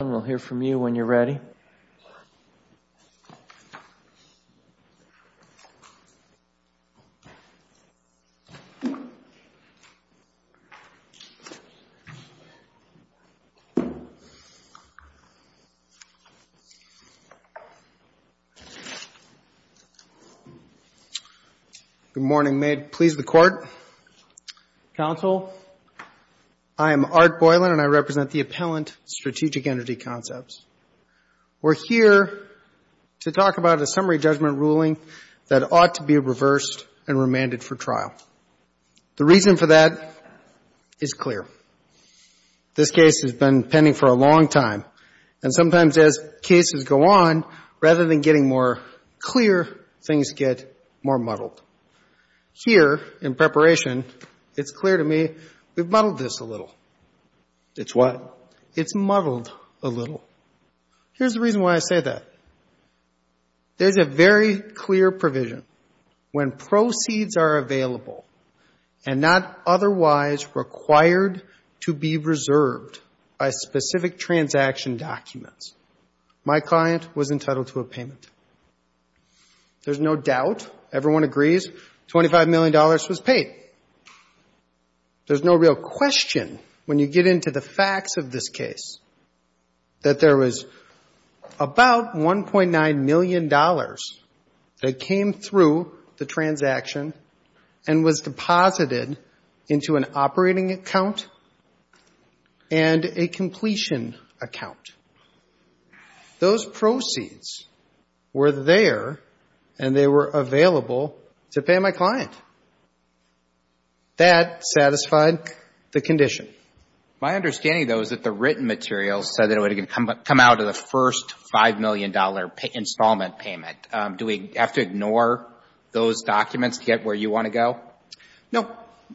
Good morning. May it please the Court, Counsel, I am Art Boylan and I represent the Appellant Strategic Energy Concepts. We're here to talk about a summary judgment ruling that ought to be reversed and remanded for trial. The reason for that is clear. This case has been pending for a long time and sometimes as cases go on, rather than getting more clear, things get more muddled. Here in preparation, it's clear to me we've muddled this a little. It's what? It's muddled a little. Here's the reason why I say that. There's a very clear provision. When proceeds are available and not otherwise required to be reserved by specific transaction documents, my client was entitled to a payment. There's no doubt, everyone agrees, $25 million was paid. There's no real question when you get into the facts of this case that there was about $1.9 million that came through the transaction and was deposited into an operating account and a completion account. Those proceeds were there and they were available to pay my client. That satisfied the condition. My understanding, though, is that the written materials said it would come out of the first $5 million installment payment. Do we have to ignore those documents to get where you want to go? No.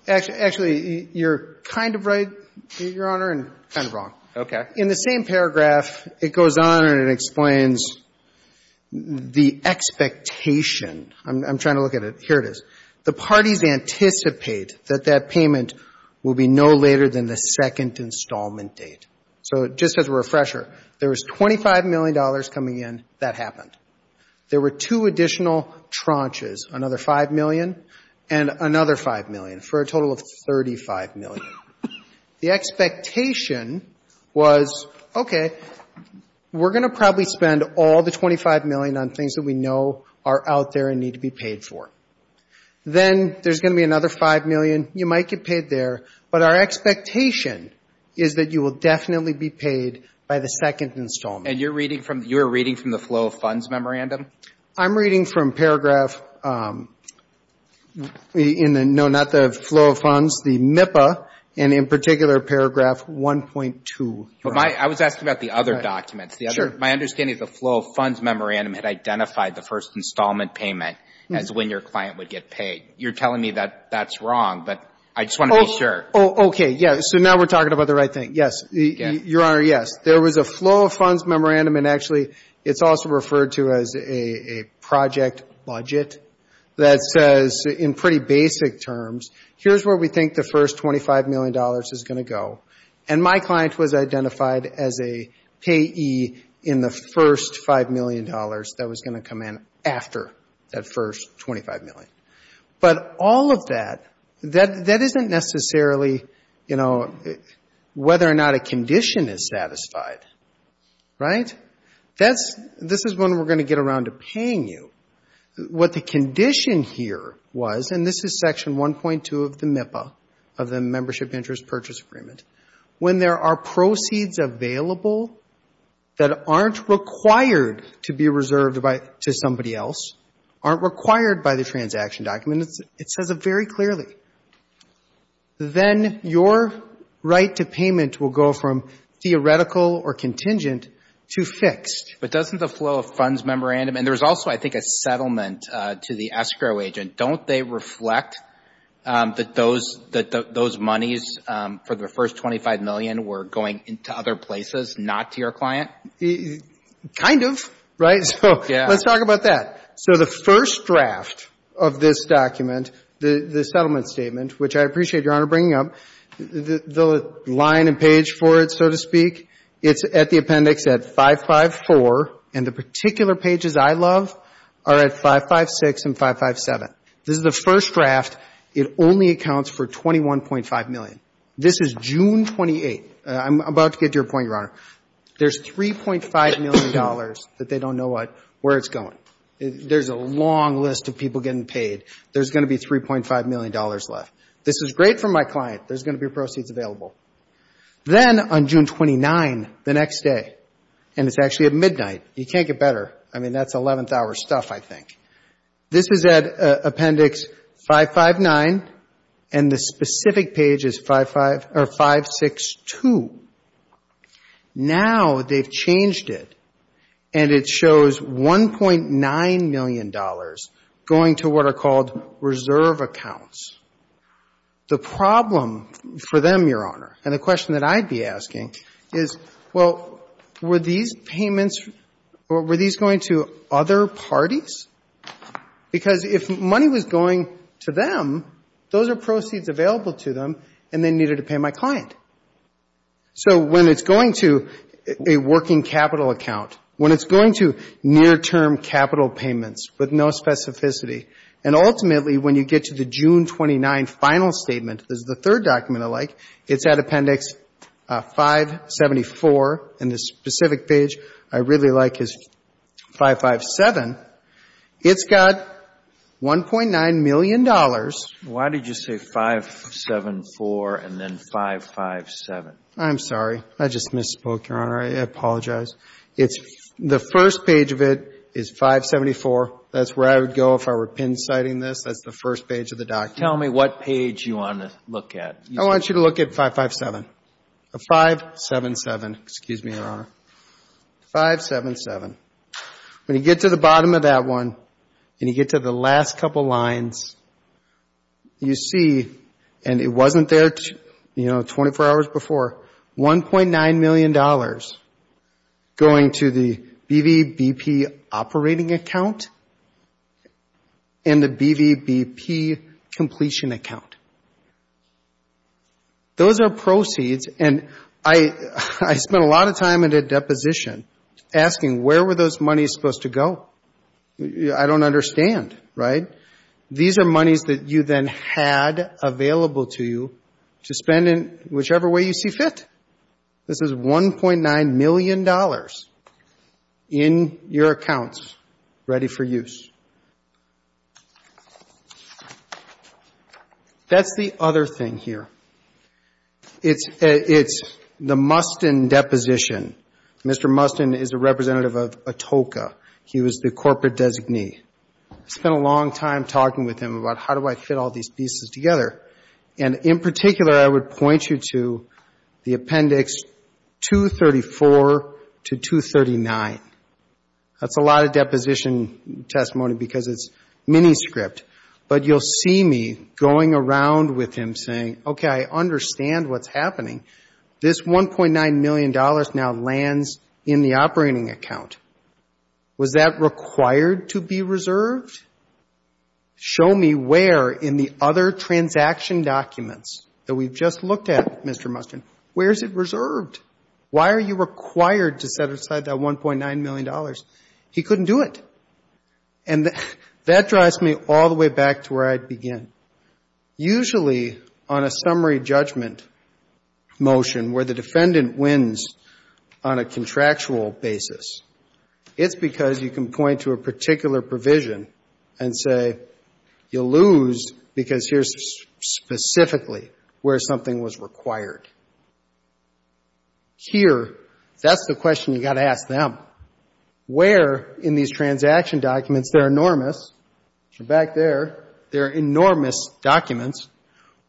Actually, you're kind of right, Your Honor, and kind of wrong. Okay. In the same paragraph, it goes on and it explains the expectation. I'm trying to look at it. Here it is. The parties anticipate that that payment will be no later than the second installment date. Just as a refresher, there was $25 million coming in. That happened. There were two additional tranches, another $5 million and another $5 million, for a total of $35 million. The expectation was, okay, we're going to probably spend all the $25 million on things that we know are out there and need to be paid for. Then there's going to be another $5 million. You might get paid there. But our expectation is that you will definitely be paid by the second installment. And you're reading from the flow of funds memorandum? I'm reading from paragraph, no, not the flow of funds, the MIPA, and in particular, paragraph 1.2. I was asking about the other documents. Sure. My understanding is the flow of funds memorandum had identified the first installment payment as when your client would get paid. You're telling me that that's wrong, but I just want to be sure. Okay. Yeah. So now we're talking about the right thing. Yes. Your Honor, yes. There was a flow of funds memorandum, and actually it's also referred to as a project budget that says, in pretty basic terms, here's where we think the first $25 million is going to go. And my client was identified as a payee in the first $5 million that was going to come in after that first $25 million. But all of that, that isn't necessarily, you know, whether or not a condition is satisfied. Right? This is when we're going to get around to paying you. What the condition here was, and this is section 1.2 of the MIPA, of the Membership Interest Purchase Agreement, when there are proceeds available that aren't required to be reserved to somebody else, aren't required by the transaction document, it says it very clearly. Then your right to payment will go from theoretical or contingent to fixed. But doesn't the flow of funds memorandum, and there was also, I think, a settlement to the escrow agent, don't they reflect that those monies for the first $25 million were going to other places, not to your client? Kind of. Right? Yeah. So let's talk about that. So the first draft of this document, the settlement statement, which I appreciate Your Honor bringing up, the line and page for it, so to speak, it's at the appendix at 554, and the particular pages I love are at 556 and 557. This is the first draft. It only accounts for $21.5 million. This is June 28th. I'm about to get to your point, Your Honor. There's $3.5 million that they don't know what, where it's going. There's a long list of people getting paid. There's going to be $3.5 million left. This is great for my client. There's going to be proceeds available. Then on June 29th, the next day, and it's actually at midnight. You can't get better. I mean, that's 11th hour stuff, I think. This is at appendix 559, and the specific page is 562. Now they've changed it, and it shows $1.9 million going to what are called reserve accounts. The problem for them, Your Honor, and the question that I'd be asking is, well, were these payments or were these going to other parties? Because if money was going to them, those are proceeds available to them, and they needed to pay my client. So when it's going to a working capital account, when it's going to near-term capital payments with no specificity, and ultimately when you get to the June 29th final statement, which is the third document I like, it's at appendix 574, and the specific page I really like is 557. It's got $1.9 million. Why did you say 574 and then 557? I'm sorry. I just misspoke, Your Honor. I apologize. The first page of it is 574. That's where I would go if I were pin-citing this. That's the first page of the document. Tell me what page you want to look at. I want you to look at 557. 577, excuse me, Your Honor. 577. When you get to the bottom of that one, and you get to the last couple lines, you see, and it wasn't there 24 hours before, $1.9 million going to the BVBP operating account and the BVBP completion account. Those are proceeds, and I spent a lot of time at a deposition asking where were those monies supposed to go? I don't understand, right? These are monies that you then had available to you to spend in whichever way you see fit. This is $1.9 million in your accounts ready for use. That's the other thing here. It's the Mustin deposition. Mr. Mustin is a representative of ATOCA. He was the corporate designee. I spent a long time talking with him about how do I fit all these pieces together. And in particular, I would point you to the appendix 234 to 239. That's a lot of deposition testimony because it's mini script. But you'll see me going around with him saying, okay, I understand what's happening. This $1.9 million now lands in the operating account. Was that required to be reserved? Show me where in the other transaction documents that we've just looked at, Mr. Mustin, where is it reserved? Why are you required to set aside that $1.9 million? He couldn't do it. And that drives me all the way back to where I'd begin. Usually on a summary judgment motion where the defendant wins on a contractual basis, it's because you can point to a particular provision and say, you lose because here's specifically where something was required. Here, that's the question you've got to ask them. Where in these transaction documents, they're enormous. Back there, they're enormous documents.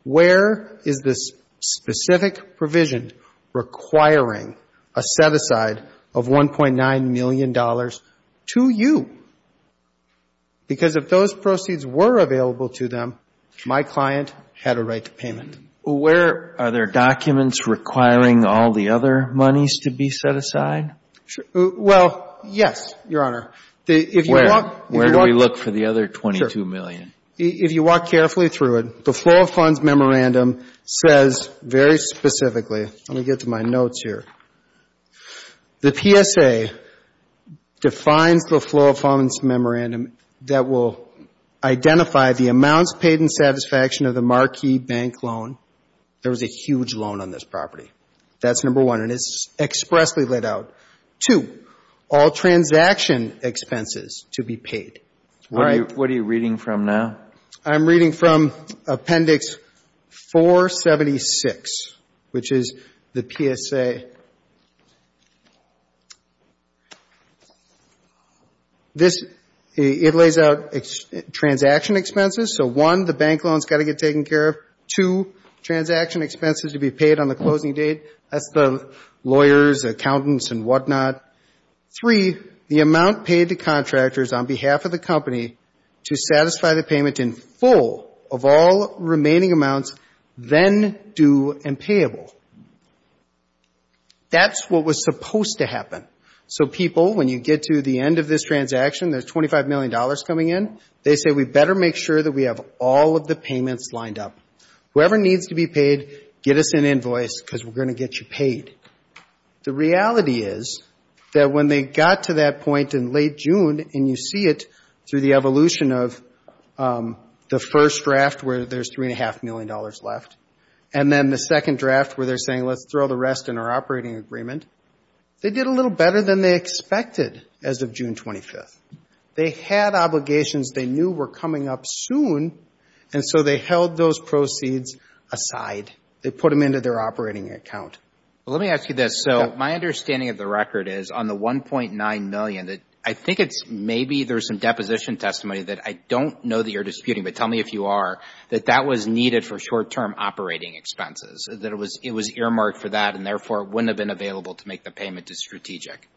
Where is this specific provision requiring a set aside of $1.9 million? It's $1.9 million to you because if those proceeds were available to them, my client had a right to payment. Where are there documents requiring all the other monies to be set aside? Well, yes, Your Honor. Where do we look for the other $22 million? If you walk carefully through it, the flow of funds memorandum says very specifically let me get to my notes here. The PSA defines the flow of funds memorandum that will identify the amounts paid in satisfaction of the marquee bank loan. There was a huge loan on this property. That's number one, and it's expressly laid out. Two, all transaction expenses to be paid. What are you reading from now? I'm reading from Appendix 476, which is the PSA. It lays out transaction expenses. So one, the bank loan's got to get taken care of. Two, transaction expenses to be paid on the closing date. That's the lawyers, accountants, and whatnot. Three, the amount paid to contractors on behalf of the company to satisfy the payment in full of all remaining amounts, then due and payable. That's what was supposed to happen. So people, when you get to the end of this transaction, there's $25 million coming in. They say we better make sure that we have all of the payments lined up. Whoever needs to be paid, get us an invoice because we're going to get you paid. The reality is that when they got to that point in late June, and you see it through the evolution of the first draft where there's $3.5 million left, and then the second draft where they're saying let's throw the rest in our operating agreement, they did a little better than they expected as of June 25th. They had obligations they knew were coming up soon, and so they held those proceeds aside. They put them into their operating account. Let me ask you this. My understanding of the record is on the $1.9 million, I think maybe there's some deposition testimony that I don't know that you're disputing, but tell me if you are, that that was needed for short-term operating expenses, that it was earmarked for that and therefore wouldn't have been available to make the payment to Strategic.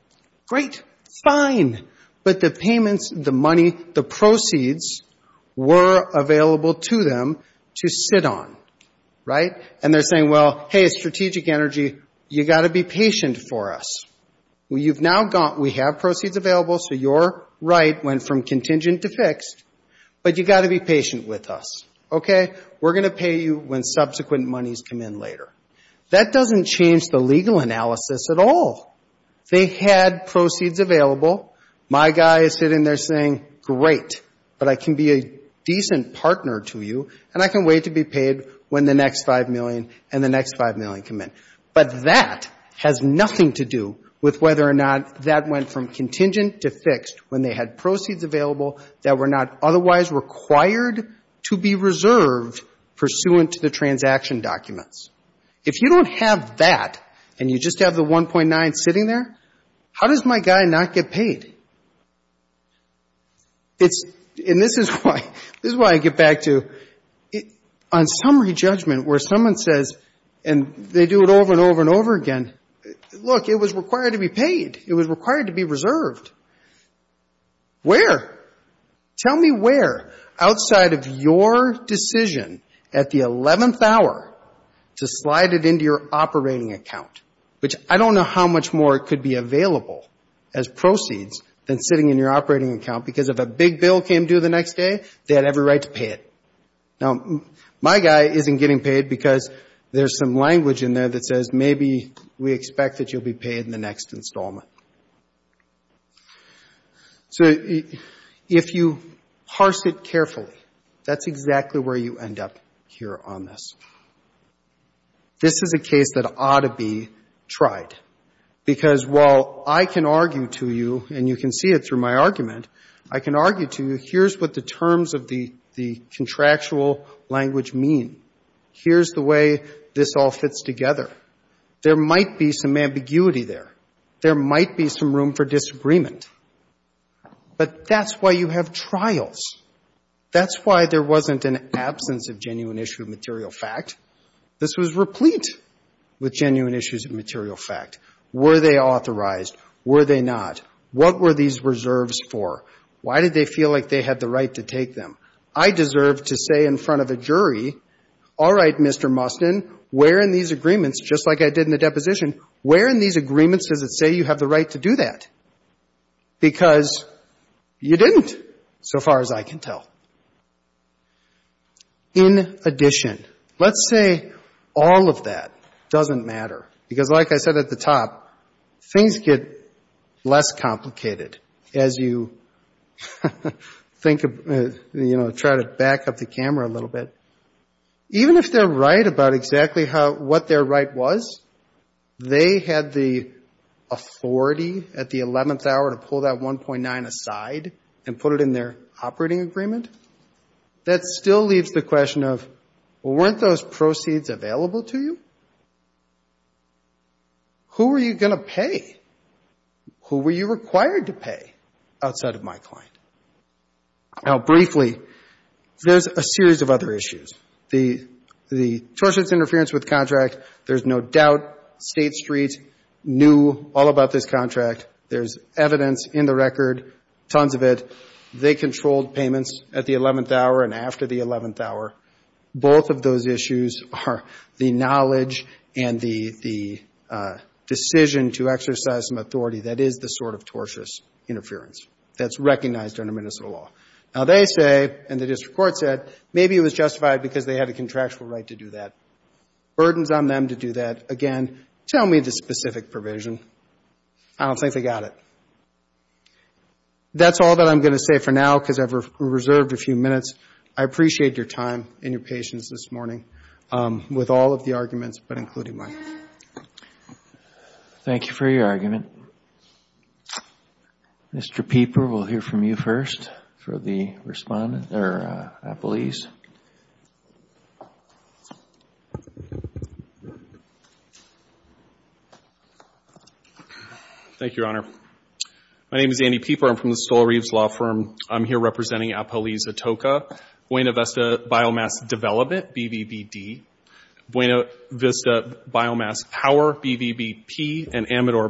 Great. Fine. But the payments, the money, the proceeds were available to them to sit on. And they're saying, well, hey, Strategic Energy, you've got to be patient for us. We have proceeds available, so you're right, went from contingent to fixed, but you've got to be patient with us. We're going to pay you when subsequent monies come in later. That doesn't change the legal analysis at all. They had proceeds available. My guy is sitting there saying, great, but I can be a decent partner to you, and I can wait to be paid when the next $5 million and the next $5 million come in. But that has nothing to do with whether or not that went from contingent to fixed when they had proceeds available that were not otherwise required to be reserved pursuant to the transaction documents. If you don't have that, and you just have the $1.9 sitting there, how does my guy not get paid? It's, and this is why, this is why I get back to, on summary judgment, where someone says, and they do it over and over and over again, look, it was required to be paid. It was required to be reserved. Where? Tell me where outside of your decision at the 11th hour to slide it into your operating account, which I don't know how much more it could be available as proceeds than sitting in your operating account, because if a big bill came due the next day, they had every right to pay it. Now, my guy isn't getting paid because there's some language in there that says, maybe we expect that you'll be paid in the next installment. So if you parse it carefully, that's exactly where you end up here on this. This is a case that ought to be tried. Because while I can argue to you, and you can see it through my argument, I can argue to you, here's what the terms of the contractual language mean. Here's the way this all fits together. There might be some ambiguity there. There might be some room for disagreement. But that's why you have trials. That's why there wasn't an absence of genuine issue of material fact. This was replete with genuine issues of material fact. Were they authorized? Were they not? What were these reserves for? Why did they feel like they had the right to take them? I deserve to say in front of a jury, all right, Mr. Mustin, where in these agreements, just like I did in the deposition, where in these agreements does it say you have the right to do that? Because you didn't, so far as I can tell. In addition, let's say all of that doesn't matter. Because like I said at the top, things get less complicated as you think of, you know, try to back up the camera a little bit. Even if they're right about exactly what their right was, they had the authority at the 11th hour to pull that 1.9 aside and put it in their operating agreement, that still leaves the question of, weren't those proceeds available to you? Who were you going to pay? Who were you required to pay outside of my client? Now, briefly, there's a series of other issues. The tortious interference with contract, there's no doubt State Street knew all about this contract. There's evidence in the record, tons of it. They controlled payments at the 11th hour and after the 11th hour. Both of those issues are the knowledge and the decision to exercise some authority that is the sort of tortious interference that's recognized under Minnesota law. Now they say, and the district court said, maybe it was justified because they had a contractual right to do that. Burdens on them to do that, again, tell me the specific provision. I don't think they got it. That's all that I'm going to say for now because I've reserved a few minutes. I appreciate your time and your patience this morning with all of the arguments, but including mine. Thank you for your argument. Thank you, Your Honor. I'm going to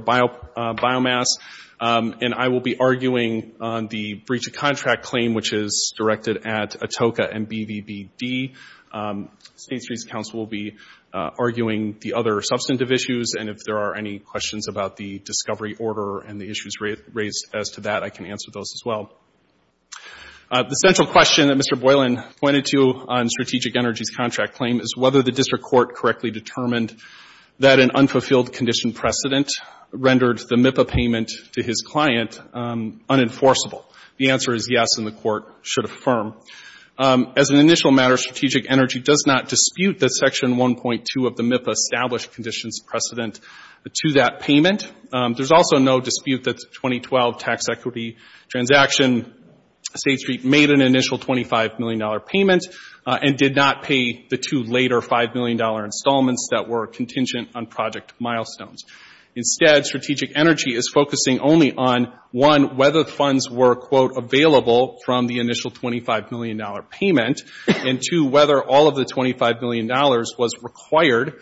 be arguing on the breach of contract claim, which is directed at Atoka and BVBD. State Street's counsel will be arguing the other substantive issues, and if there are any questions about the discovery order and the issues raised as to that, I can answer those as well. The central question that Mr. Boylan pointed to on Strategic Energy's contract claim is whether the district court correctly determined that an unfulfilled condition precedent rendered the MIPA payment to his client unenforceable. The answer is yes, and the court should affirm. As an initial matter, Strategic Energy does not dispute that Section 1.2 of the MIPA established conditions precedent to that payment. There's also no dispute that the 2012 tax equity transaction, State Street made an initial $25 million payment and did not pay the two later $5 million installments that were contingent on project milestones. Instead, Strategic Energy is focusing only on, one, whether funds were, quote, available from the initial $25 million payment, and two, whether all of the $25 million was required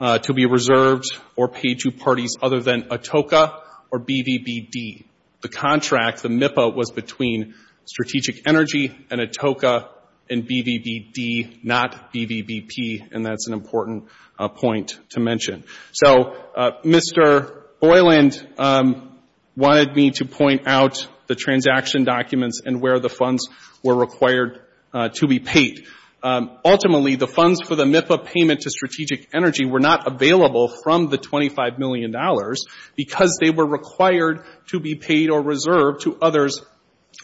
to be reserved or paid to parties other than Atoka. Or BVBD. The contract, the MIPA, was between Strategic Energy and Atoka and BVBD, not BVBP. And that's an important point to mention. So Mr. Boylan wanted me to point out the transaction documents and where the funds were required to be paid. Ultimately, the funds for the MIPA payment to Strategic Energy were not available from the $25 million. Because they were required to be paid or reserved to others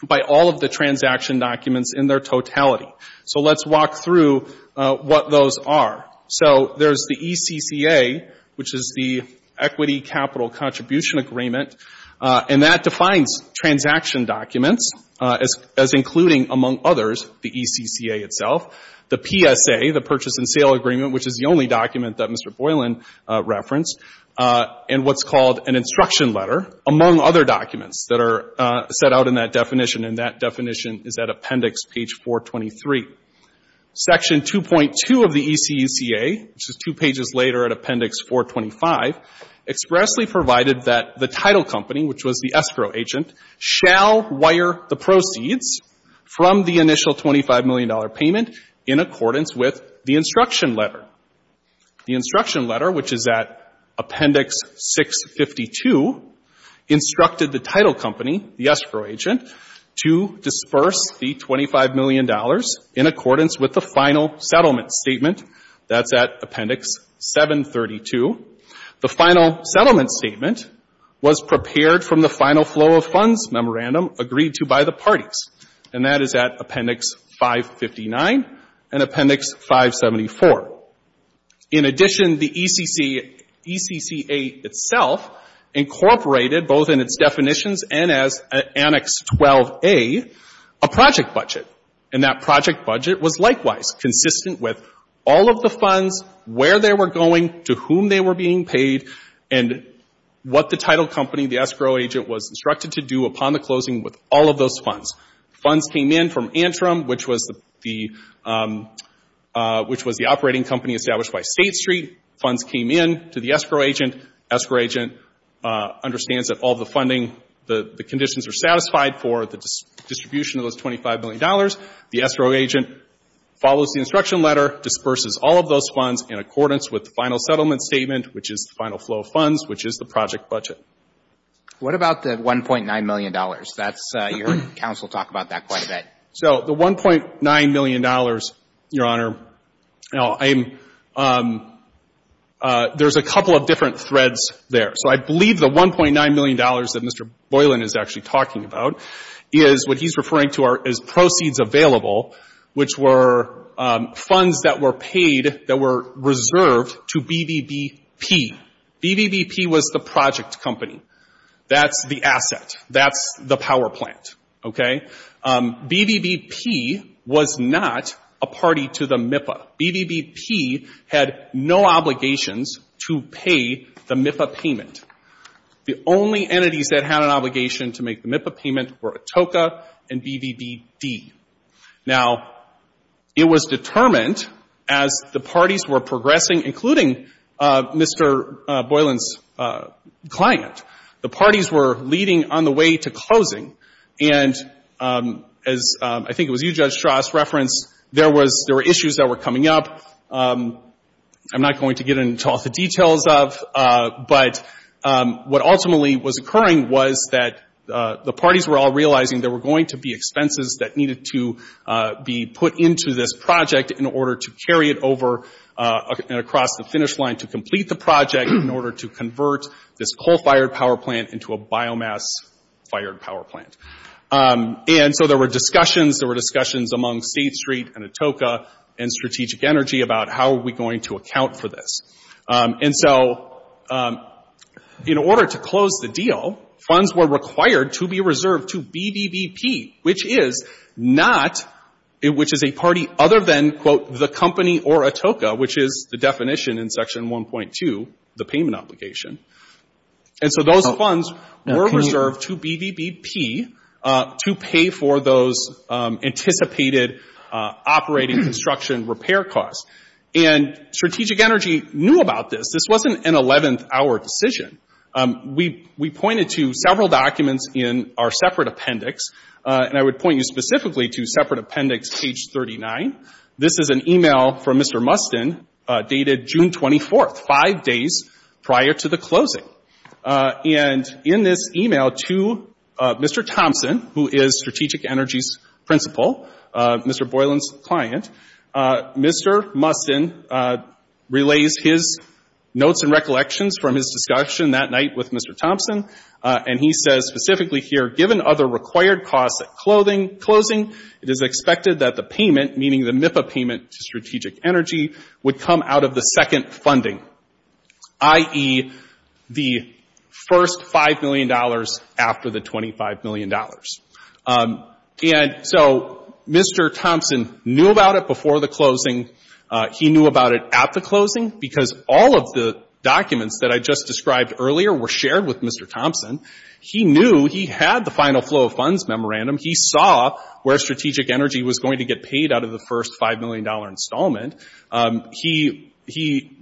by all of the transaction documents in their totality. So let's walk through what those are. So there's the ECCA, which is the Equity Capital Contribution Agreement. And that defines transaction documents as including, among others, the ECCA itself. The PSA, the Purchase and Sale Agreement, which is the only document that Mr. Boylan referenced. And what's called an instruction letter, among other documents that are set out in that definition. And that definition is at Appendix Page 423. Section 2.2 of the ECCA, which is two pages later at Appendix 425, expressly provided that the title company, which was the escrow agent, shall wire the proceeds from the initial $25 million payment in accordance with the instruction letter. The instruction letter, which is at Appendix 652, instructed the title company, the escrow agent, to disperse the $25 million in accordance with the final settlement statement. That's at Appendix 732. The final settlement statement was prepared from the final flow of funds memorandum agreed to by the parties. And that is at Appendix 559 and Appendix 574. In addition, the ECCA itself incorporated, both in its definitions and as Annex 12a, a project budget. And that project budget was likewise consistent with all of the funds, where they were going, to whom they were being paid, and what the title company, the escrow agent, was instructed to do upon the closing with all of those funds. Funds came in from Antrim, which was the operating company established by State Street. Funds came in to the escrow agent. Escrow agent understands that all the funding, the conditions are satisfied for the distribution of those $25 million. The escrow agent follows the instruction letter, disperses all of those funds in accordance with the final settlement statement, which is the final flow of funds, which is the project budget. And we'll talk about that quite a bit. So the $1.9 million, Your Honor, there's a couple of different threads there. So I believe the $1.9 million that Mr. Boylan is actually talking about is what he's referring to as proceeds available, which were funds that were paid, that were reserved to BBBP. BBBP was the project company. That's the asset. That's the power plant. Okay? BBBP was not a party to the MIPA. BBBP had no obligations to pay the MIPA payment. The only entities that had an obligation to make the MIPA payment were Atoka and BBBD. Now, it was determined as the parties were progressing, including Mr. Boylan's client, the parties were leading on the way to closing. And as I think it was you, Judge Strauss, referenced, there were issues that were coming up. I'm not going to get into all the details of, but what ultimately was occurring was that the parties were all realizing there were going to be expenses that needed to be put into this project in order to carry it over and across the finish line to complete the project in order to convert this coal-fired power plant into a biomass-fired power plant. And so there were discussions. There were discussions among State Street and Atoka and Strategic Energy about how are we going to account for this. And so in order to close the deal, funds were required to be reserved to BBBP, which is not — which is a party other than, quote, the company or Atoka, which is the definition in the definition. And so those funds were reserved to BBBP to pay for those anticipated operating construction repair costs. And Strategic Energy knew about this. This wasn't an 11th-hour decision. We pointed to several documents in our separate appendix, and I would point you specifically to separate appendix page 39. This is an email from Mr. Mustin dated June 24th, five days prior to the closing. And in this email to Mr. Thompson, who is Strategic Energy's principal, Mr. Boylan's client, Mr. Mustin relays his notes and recollections from his discussion that night with Mr. Thompson. And he says specifically here, given other required costs at closing, it is expected that the funds be paid, i.e., the first $5 million after the $25 million. And so Mr. Thompson knew about it before the closing. He knew about it at the closing, because all of the documents that I just described earlier were shared with Mr. Thompson. He knew he had the final flow of funds memorandum. He saw where Strategic Energy was going to get paid out of the first $5 million installment. He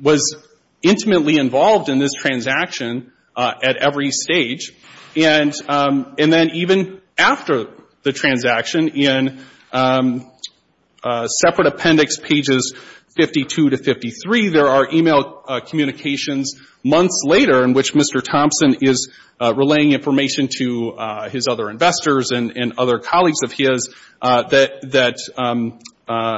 was intimately involved in this transaction at every stage. And then even after the transaction, in separate appendix pages 52 to 53, there are email communications months later in which Mr. Thompson is relaying information to his other investors and other colleagues of his that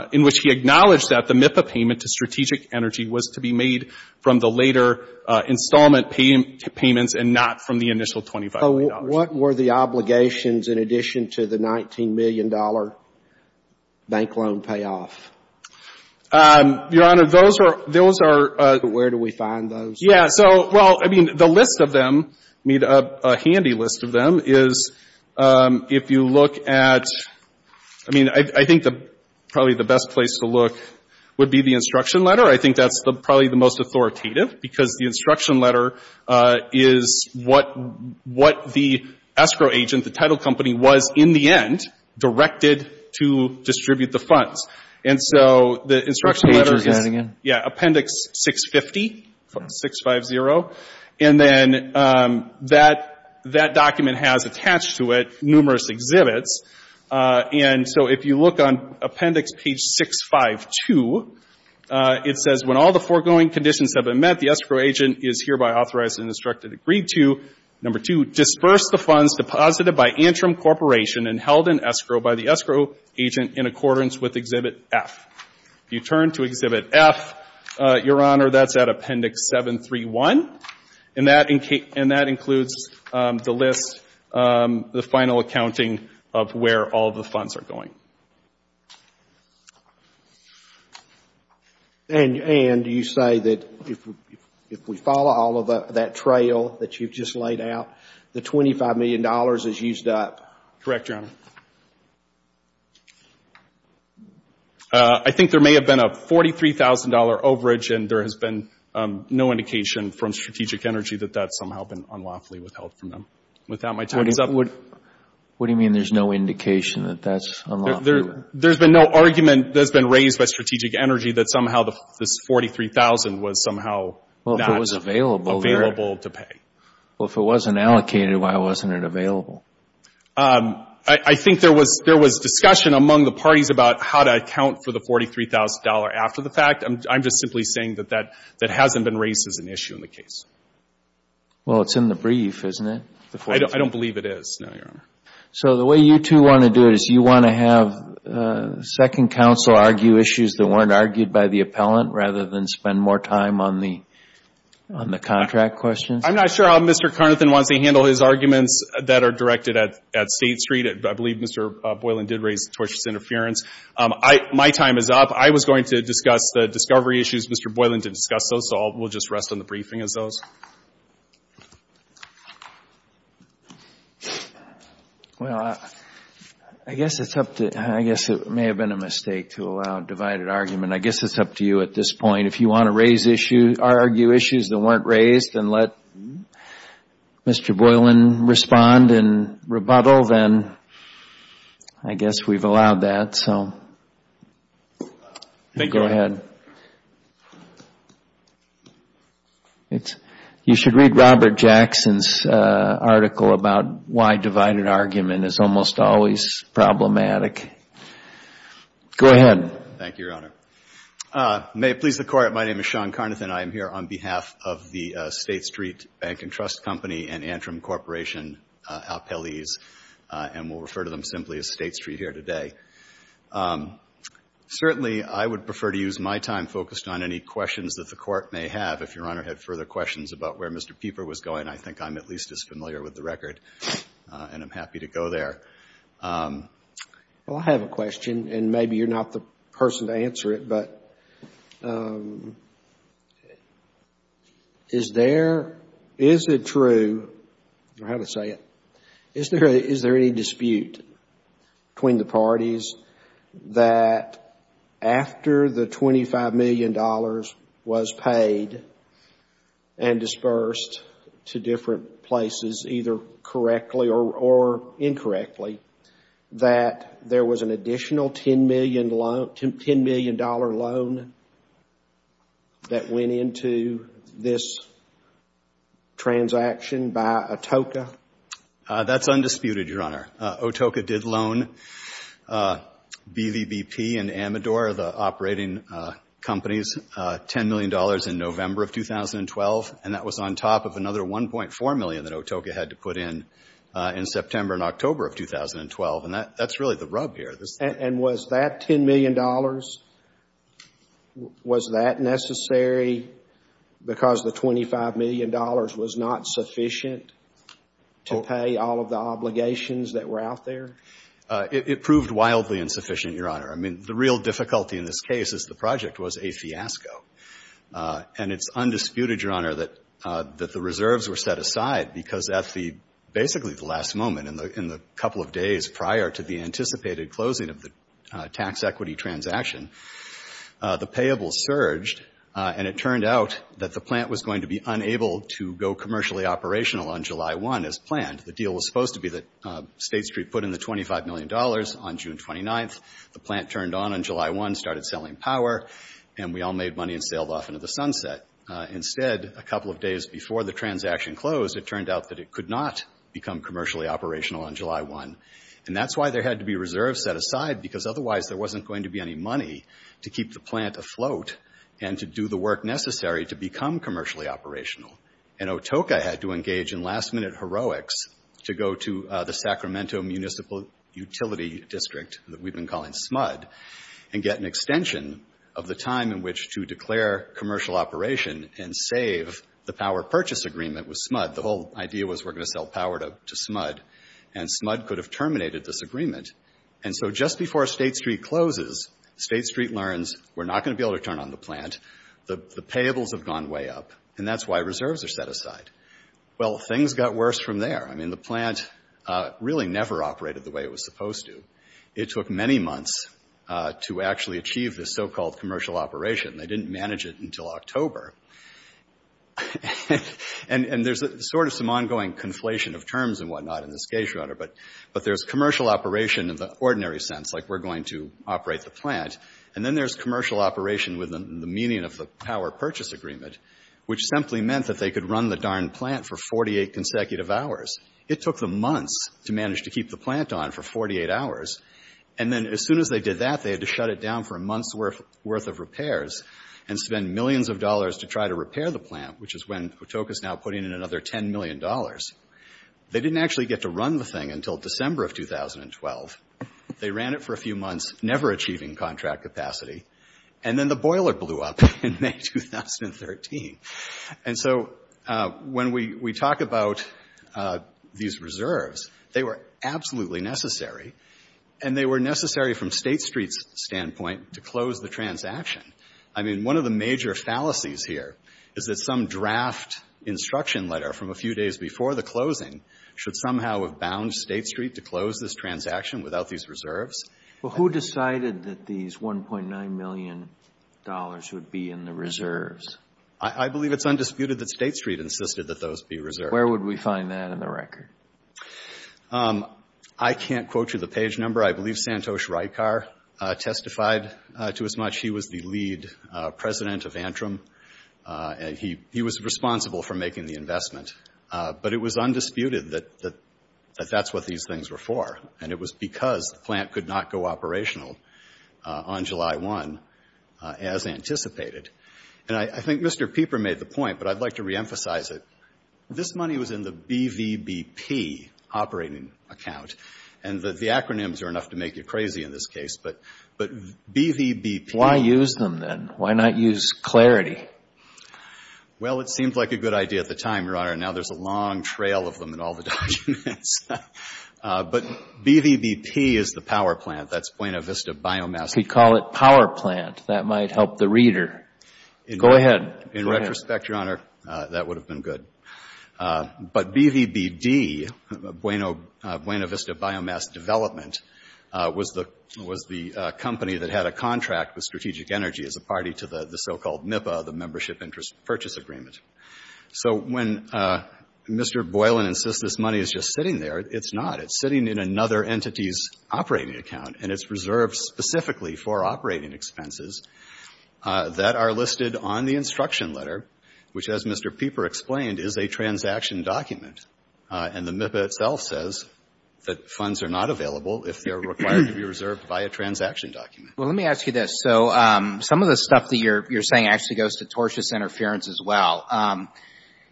— in which he acknowledged that the MIPA payment to Strategic Energy was to be made from the later installment payments and not from the initial $25 million. So what were the obligations in addition to the $19 million bank loan payoff? Your Honor, those are — those are — Where do we find those? Yeah. So, well, I mean, the list of them — I mean, a handy list of them is if you look at — I mean, I think probably the best place to look would be the instruction letter. I think that's probably the most authoritative, because the instruction letter is what the escrow agent, the title company, was in the end directed to distribute the funds. And so the instruction letter is — Which page are we getting in? Yeah. Appendix 650, 650. And then that document has attached to it numerous exhibits. And so if you look on Appendix Page 652, it says, When all the foregoing conditions have been met, the escrow agent is hereby authorized and instructed to agree to, number two, disperse the funds deposited by Antrim Corporation and held in escrow by the escrow agent in accordance with Exhibit F. If you turn to Exhibit F, Your Honor, that's at Appendix 731. And that includes the list, the final accounting of where all the funds are going. And do you say that if we follow all of that trail that you've just laid out, the $25 million is used up? Correct, Your Honor. I think there may have been a $43,000 overage, and there has been no indication from Strategic Energy that that's somehow been unlawfully withheld from them. What do you mean there's no indication that that's unlawfully? There's been no argument that's been raised by Strategic Energy that somehow this $43,000 was somehow not available to pay. Well, if it wasn't allocated, why wasn't it available? I think there was discussion among the parties about how to account for the $43,000 after the fact. I'm just simply saying that that hasn't been raised as an issue in the case. Well, it's in the brief, isn't it? I don't believe it is, no, Your Honor. So the way you two want to do it is you want to have Second Counsel argue issues that weren't argued by the appellant rather than spend more time on the contract questions? I'm not sure how Mr. Carnathan wants to handle his arguments that are directed at State Street. I believe Mr. Boylan did raise tortious interference. My time is up. I was going to discuss the discovery issues. Mr. Boylan did discuss those, so we'll just rest on the briefing as those. Well, I guess it may have been a mistake to allow divided argument. I guess it's up to you at this point. If you want to argue issues that weren't raised and let Mr. Boylan respond in rebuttal, then I guess we've allowed that, so go ahead. You should read Robert Jackson's article about why divided argument is almost always problematic. Go ahead. Thank you, Your Honor. May it please the Court, my name is Sean Carnathan. I'm here on behalf of the State Street Bank and Trust Company and Antrim Corporation appellees, and we'll refer to them simply as State Street here today. Certainly, I would prefer to use my time focused on any questions that the Court may have. If Your Honor had further questions about where Mr. Pieper was going, I think I'm at least as familiar with the record, and I'm happy to go there. Well, I have a question, and maybe you're not the person to answer it. But is there, is it true, I don't know how to say it, is there any dispute between the parties that after the $25 million was paid and dispersed to different places, either correctly or incorrectly, that there was an additional $10 million loan that went into this transaction by Atoka? That's undisputed, Your Honor. Atoka did loan BVBP and Amador, the operating companies, $10 million in November of 2012, and that was on top of another $1.4 million that Atoka had to put in in September and October of 2012. And that's really the rub here. And was that $10 million, was that necessary because the $25 million was not sufficient to pay all of the obligations that were out there? It proved wildly insufficient, Your Honor. I mean, the real difficulty in this case is the project was a fiasco. And it's undisputed, Your Honor, that the reserves were set aside because at the basically the last moment, in the couple of days prior to the anticipated closing of the tax equity transaction, the payables surged and it turned out that the plant was going to be unable to go commercially operational on July 1 as planned. The deal was supposed to be that State Street put in the $25 million on June 29th. The plant turned on on July 1, started selling power, and we all made money and sailed off into the sunset. Instead, a couple of days before the transaction closed, it turned out that it could not become commercially operational on July 1. And that's why there had to be reserves set aside, because otherwise there wasn't going to be any money to keep the plant afloat and to do the work necessary to become commercially operational. And Atoka had to engage in last-minute heroics to go to the Sacramento Municipal Utility District that we've been calling SMUD and get an extension of the time in which to declare commercial operation and save the power purchase agreement with SMUD. The whole idea was we're going to sell power to SMUD, and SMUD could have terminated this agreement. And so just before State Street closes, State Street learns we're not going to be able to turn on the plant. The payables have gone way up, and that's why reserves are set aside. Well, things got worse from there. I mean, the plant really never operated the way it was supposed to. It took many months to actually achieve this so-called commercial operation. They didn't manage it until October. And there's sort of some ongoing conflation of terms and whatnot in this case, Your Honor. But there's commercial operation in the ordinary sense, like we're going to operate the plant, and then there's commercial operation with the meaning of the power purchase agreement, which simply meant that they could run the darn plant for 48 consecutive hours. It took them months to manage to keep the plant on for 48 hours. And then as soon as they did that, they had to shut it down for a month's worth of repairs and spend millions of dollars to try to repair the plant, which is when Patoka's now putting in another $10 million. They didn't actually get to run the thing until December of 2012. They ran it for a few months, never achieving contract capacity. And then the boiler blew up in May 2013. And so when we talk about these reserves, they were absolutely necessary, and they were necessary from State Street's standpoint to close the transaction. I mean, one of the major fallacies here is that some draft instruction letter from a few days before the closing should somehow have bound State Street to close this transaction without these reserves. Well, who decided that these $1.9 million would be in the reserves? I believe it's undisputed that State Street insisted that those be reserved. Where would we find that in the record? I can't quote you the page number. I believe Santosh Raikar testified to as much. He was the lead president of Antrim, and he was responsible for making the investment. But it was undisputed that that's what these things were for, and it was because the plant could not go operational on July 1 as anticipated. And I think Mr. Pieper made the point, but I'd like to reemphasize it. This money was in the BVBP operating account. And the acronyms are enough to make you crazy in this case, but BVBP. Why use them, then? Why not use Clarity? Well, it seemed like a good idea at the time, Your Honor. Now there's a long trail of them in all the documents. But BVBP is the power plant. That's Buena Vista Biomass. We call it power plant. That might help the reader. Go ahead. In retrospect, Your Honor, that would have been good. But BVBD, Buena Vista Biomass Development, was the company that had a contract with Strategic Energy as a party to the so-called MIPA, the Membership Interest Purchase Agreement. So when Mr. Boylan insists this money is just sitting there, it's not. It's sitting in another entity's operating account, and it's reserved specifically for operating expenses that are listed on the instruction letter, which, as Mr. Pieper explained, is a transaction document. And the MIPA itself says that funds are not available if they're required to be reserved by a transaction document. Well, let me ask you this. So some of the stuff that you're saying actually goes to tortious interference as well.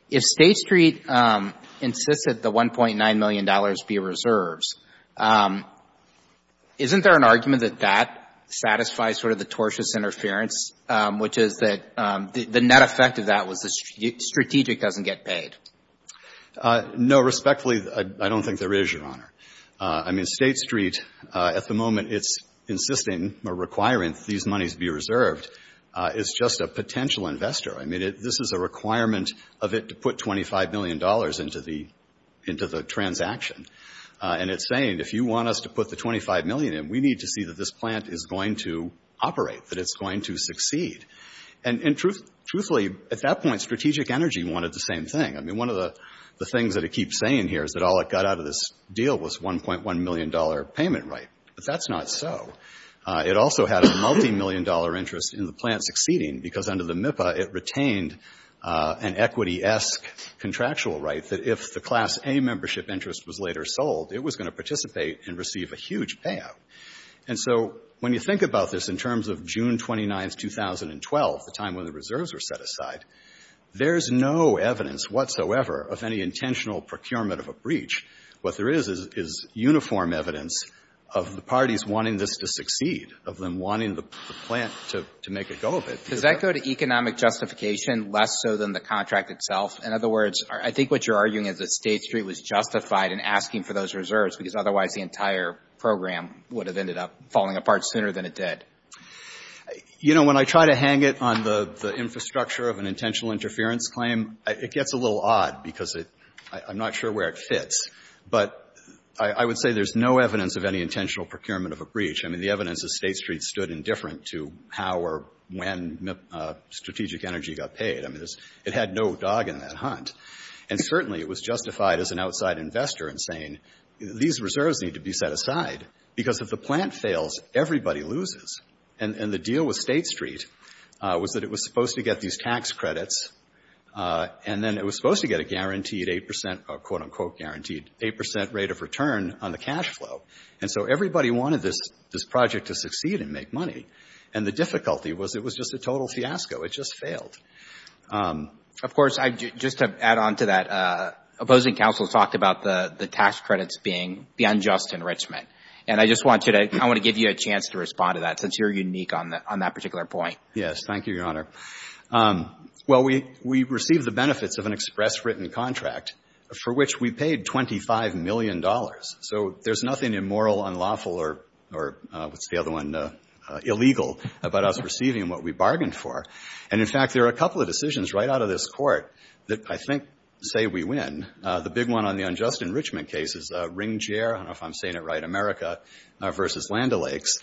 If State Street insists that the $1.9 million be reserved, isn't there an argument that that satisfies sort of the tortious interference, which is that the net effect of that was the strategic doesn't get paid? No. Respectfully, I don't think there is, Your Honor. I mean, State Street, at the moment, it's insisting or requiring that these monies be reserved. It's just a potential investor. I mean, this is a requirement of it to put $25 million into the transaction. And it's saying, if you want us to put the $25 million in, we need to see that this plant is going to operate, that it's going to succeed. And truthfully, at that point, Strategic Energy wanted the same thing. I mean, one of the things that it keeps saying here is that all it got out of this deal was $1.1 million payment right. But that's not so. It also had a multimillion-dollar interest in the plant succeeding because under the MIPA, it retained an equity-esque contractual right that if the Class A membership interest was later sold, it was going to participate and receive a huge payout. And so when you think about this in terms of June 29, 2012, the time when the reserves were set aside, there's no evidence whatsoever of any intentional procurement of a breach. What there is is uniform evidence of the parties wanting this to succeed, of them wanting the plant to make a go of it. Does that go to economic justification less so than the contract itself? In other words, I think what you're arguing is that State Street was justified in asking for those reserves because otherwise the entire program would have ended up falling apart sooner than it did. You know, when I try to hang it on the infrastructure of an intentional interference claim, it gets a little odd because I'm not sure where it fits. But I would say there's no evidence of any intentional procurement of a breach. I mean, the evidence is State Street stood indifferent to how or when strategic energy got paid. I mean, it had no dog in that hunt. And certainly it was justified as an outside investor in saying, these reserves need to be set aside because if the plant fails, everybody loses. And the deal with State Street was that it was supposed to get these tax credits and then it was supposed to get a guaranteed 8 percent, a quote-unquote guaranteed, 8 percent rate of return on the cash flow. And so everybody wanted this project to succeed and make money. And the difficulty was it was just a total fiasco. It just failed. Of course, just to add on to that, opposing counsel talked about the tax credits being the unjust enrichment. And I just want to give you a chance to respond to that since you're unique on that particular point. Yes, thank you, Your Honor. Well, we received the benefits of an express written contract for which we paid $25 million. So there's nothing immoral, unlawful, or what's the other one, illegal about us receiving what we bargained for. And, in fact, there are a couple of decisions right out of this court that I think say we win. The big one on the unjust enrichment case is Ringgier, I don't know if I'm saying it right, America versus Land O'Lakes,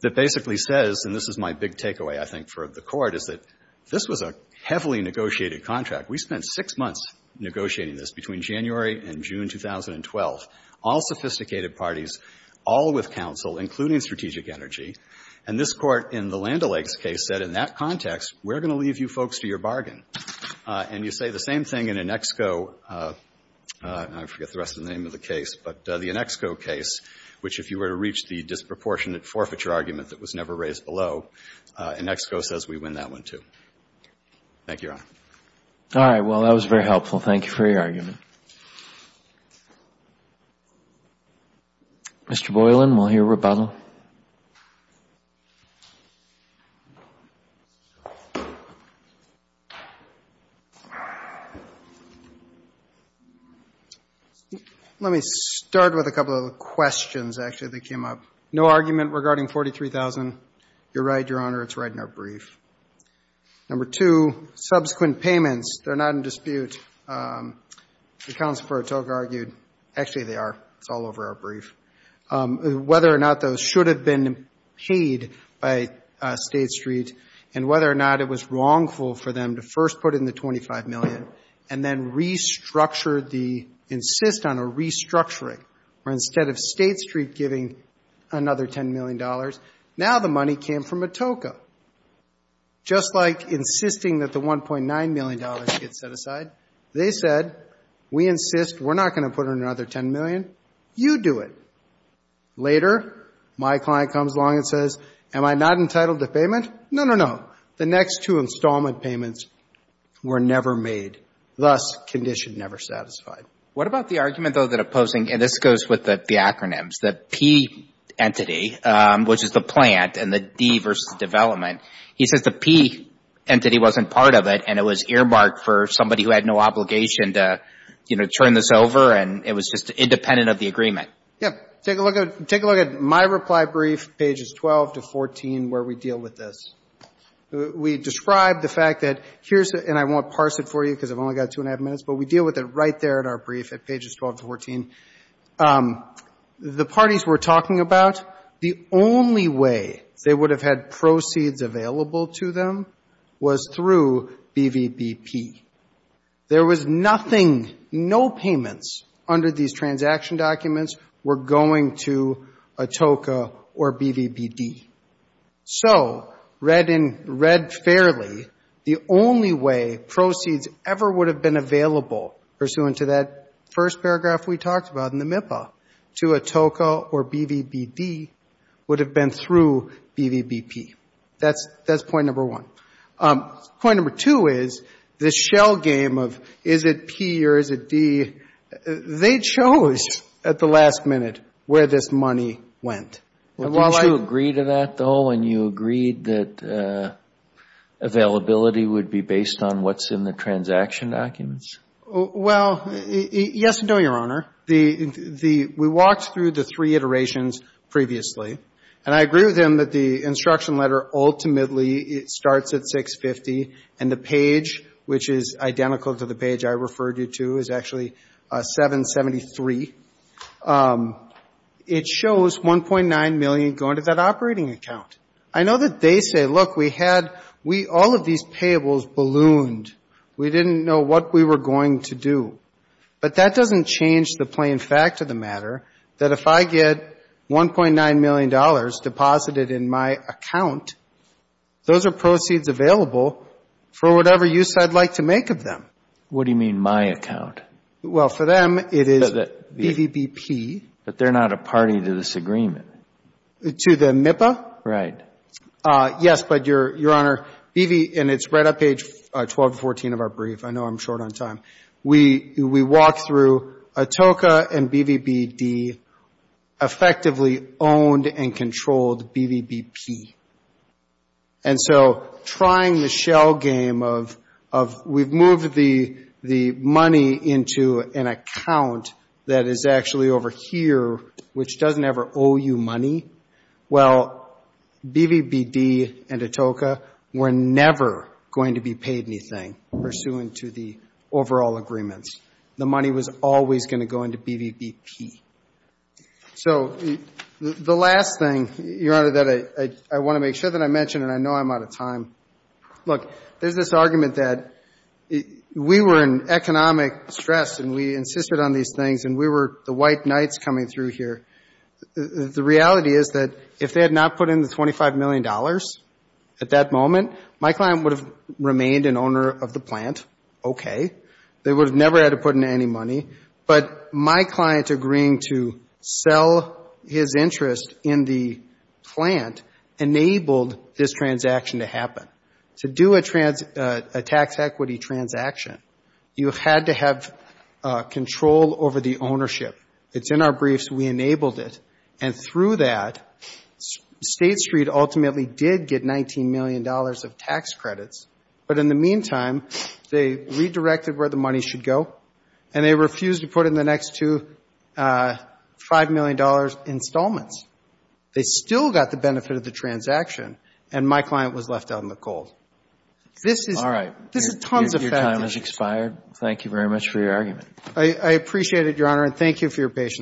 that basically says, and this is my big takeaway, I think, for the court, is that this was a heavily negotiated contract. We spent six months negotiating this between January and June 2012, all sophisticated parties, all with counsel, including Strategic Energy. And this Court in the Land O'Lakes case said in that context, we're going to leave you folks to your bargain. And you say the same thing in Annexco, I forget the rest of the name of the case, but the Annexco case, which if you were to reach the disproportionate forfeiture argument that was never raised below, Annexco says we win that one, too. Thank you, Your Honor. All right. Well, that was very helpful. Thank you for your argument. Mr. Boylan, we'll hear rebuttal. Let me start with a couple of questions, actually, that came up. No argument regarding 43,000. You're right, Your Honor, it's right in our brief. Number two, subsequent payments, they're not in dispute. The counsel for Atoke argued, actually, they are. It's all over our brief. Whether or not those should have been paid by State Street and whether or not it was wrongful for them to first put in the $25 million and then restructure the, insist on a restructuring, where instead of State Street giving another $10 million, now the money came from Atoke. Just like insisting that the $1.9 million get set aside, they said, we insist, we're not going to put in another $10 million. You do it. Later, my client comes along and says, am I not entitled to payment? No, no, no. The next two installment payments were never made. Thus, condition never satisfied. What about the argument, though, that opposing, and this goes with the acronyms, the P entity, which is the plant, and the D versus development. He says the P entity wasn't part of it and it was earmarked for somebody who had no obligation to, you know, turn this over and it was just independent of the agreement. Yeah. Take a look at my reply brief, pages 12 to 14, where we deal with this. We describe the fact that here's the, and I won't parse it for you because I've only got two and a half minutes, but we deal with it right there in our brief at pages 12 to 14. The parties we're talking about, the only way they would have had proceeds available to them was through BVBP. There was nothing, no payments under these transaction documents were going to ATOCA or BVBD. So, read fairly, the only way proceeds ever would have been available, pursuant to that first paragraph we talked about in the MIPA, to ATOCA or BVBD would have been through BVBP. That's point number one. Point number two is the shell game of is it P or is it D, they chose at the last minute where this money went. Didn't you agree to that, though, when you agreed that availability would be based on what's in the transaction documents? Well, yes and no, Your Honor. We walked through the three iterations previously, and I agree with them that the instruction letter ultimately starts at 650 and the page, which is identical to the page I referred you to, is actually 773. It shows 1.9 million going to that operating account. I know that they say, look, we had all of these payables ballooned. We didn't know what we were going to do. But that doesn't change the plain fact of the matter, that if I get $1.9 million deposited in my account, those are proceeds available for whatever use I'd like to make of them. What do you mean, my account? Well, for them, it is BVBP. But they're not a party to this agreement. To the MIPA? Right. Yes, but, Your Honor, BV, and it's right on page 12 and 14 of our brief. I know I'm short on time. We walked through ATOCA and BVBD effectively owned and controlled BVBP. And so trying the shell game of we've moved the money into an account that is actually over here, which doesn't ever owe you money, well, BVBD and ATOCA were never going to be overall agreements. The money was always going to go into BVBP. So the last thing, Your Honor, that I want to make sure that I mention, and I know I'm out of time. Look, there's this argument that we were in economic stress and we insisted on these things and we were the white knights coming through here. The reality is that if they had not put in the $25 million at that moment, my client would have remained an owner of the plant, okay. They would have never had to put in any money. But my client agreeing to sell his interest in the plant enabled this transaction to happen. To do a tax equity transaction, you had to have control over the ownership. It's in our briefs. We enabled it. And through that, State Street ultimately did get $19 million of tax credits. But in the meantime, they redirected where the money should go, and they refused to put in the next two $5 million installments. They still got the benefit of the transaction, and my client was left out in the cold. This is tons of facts. All right. Your time has expired. Thank you very much for your argument. I appreciate it, Your Honor, and thank you for your patience.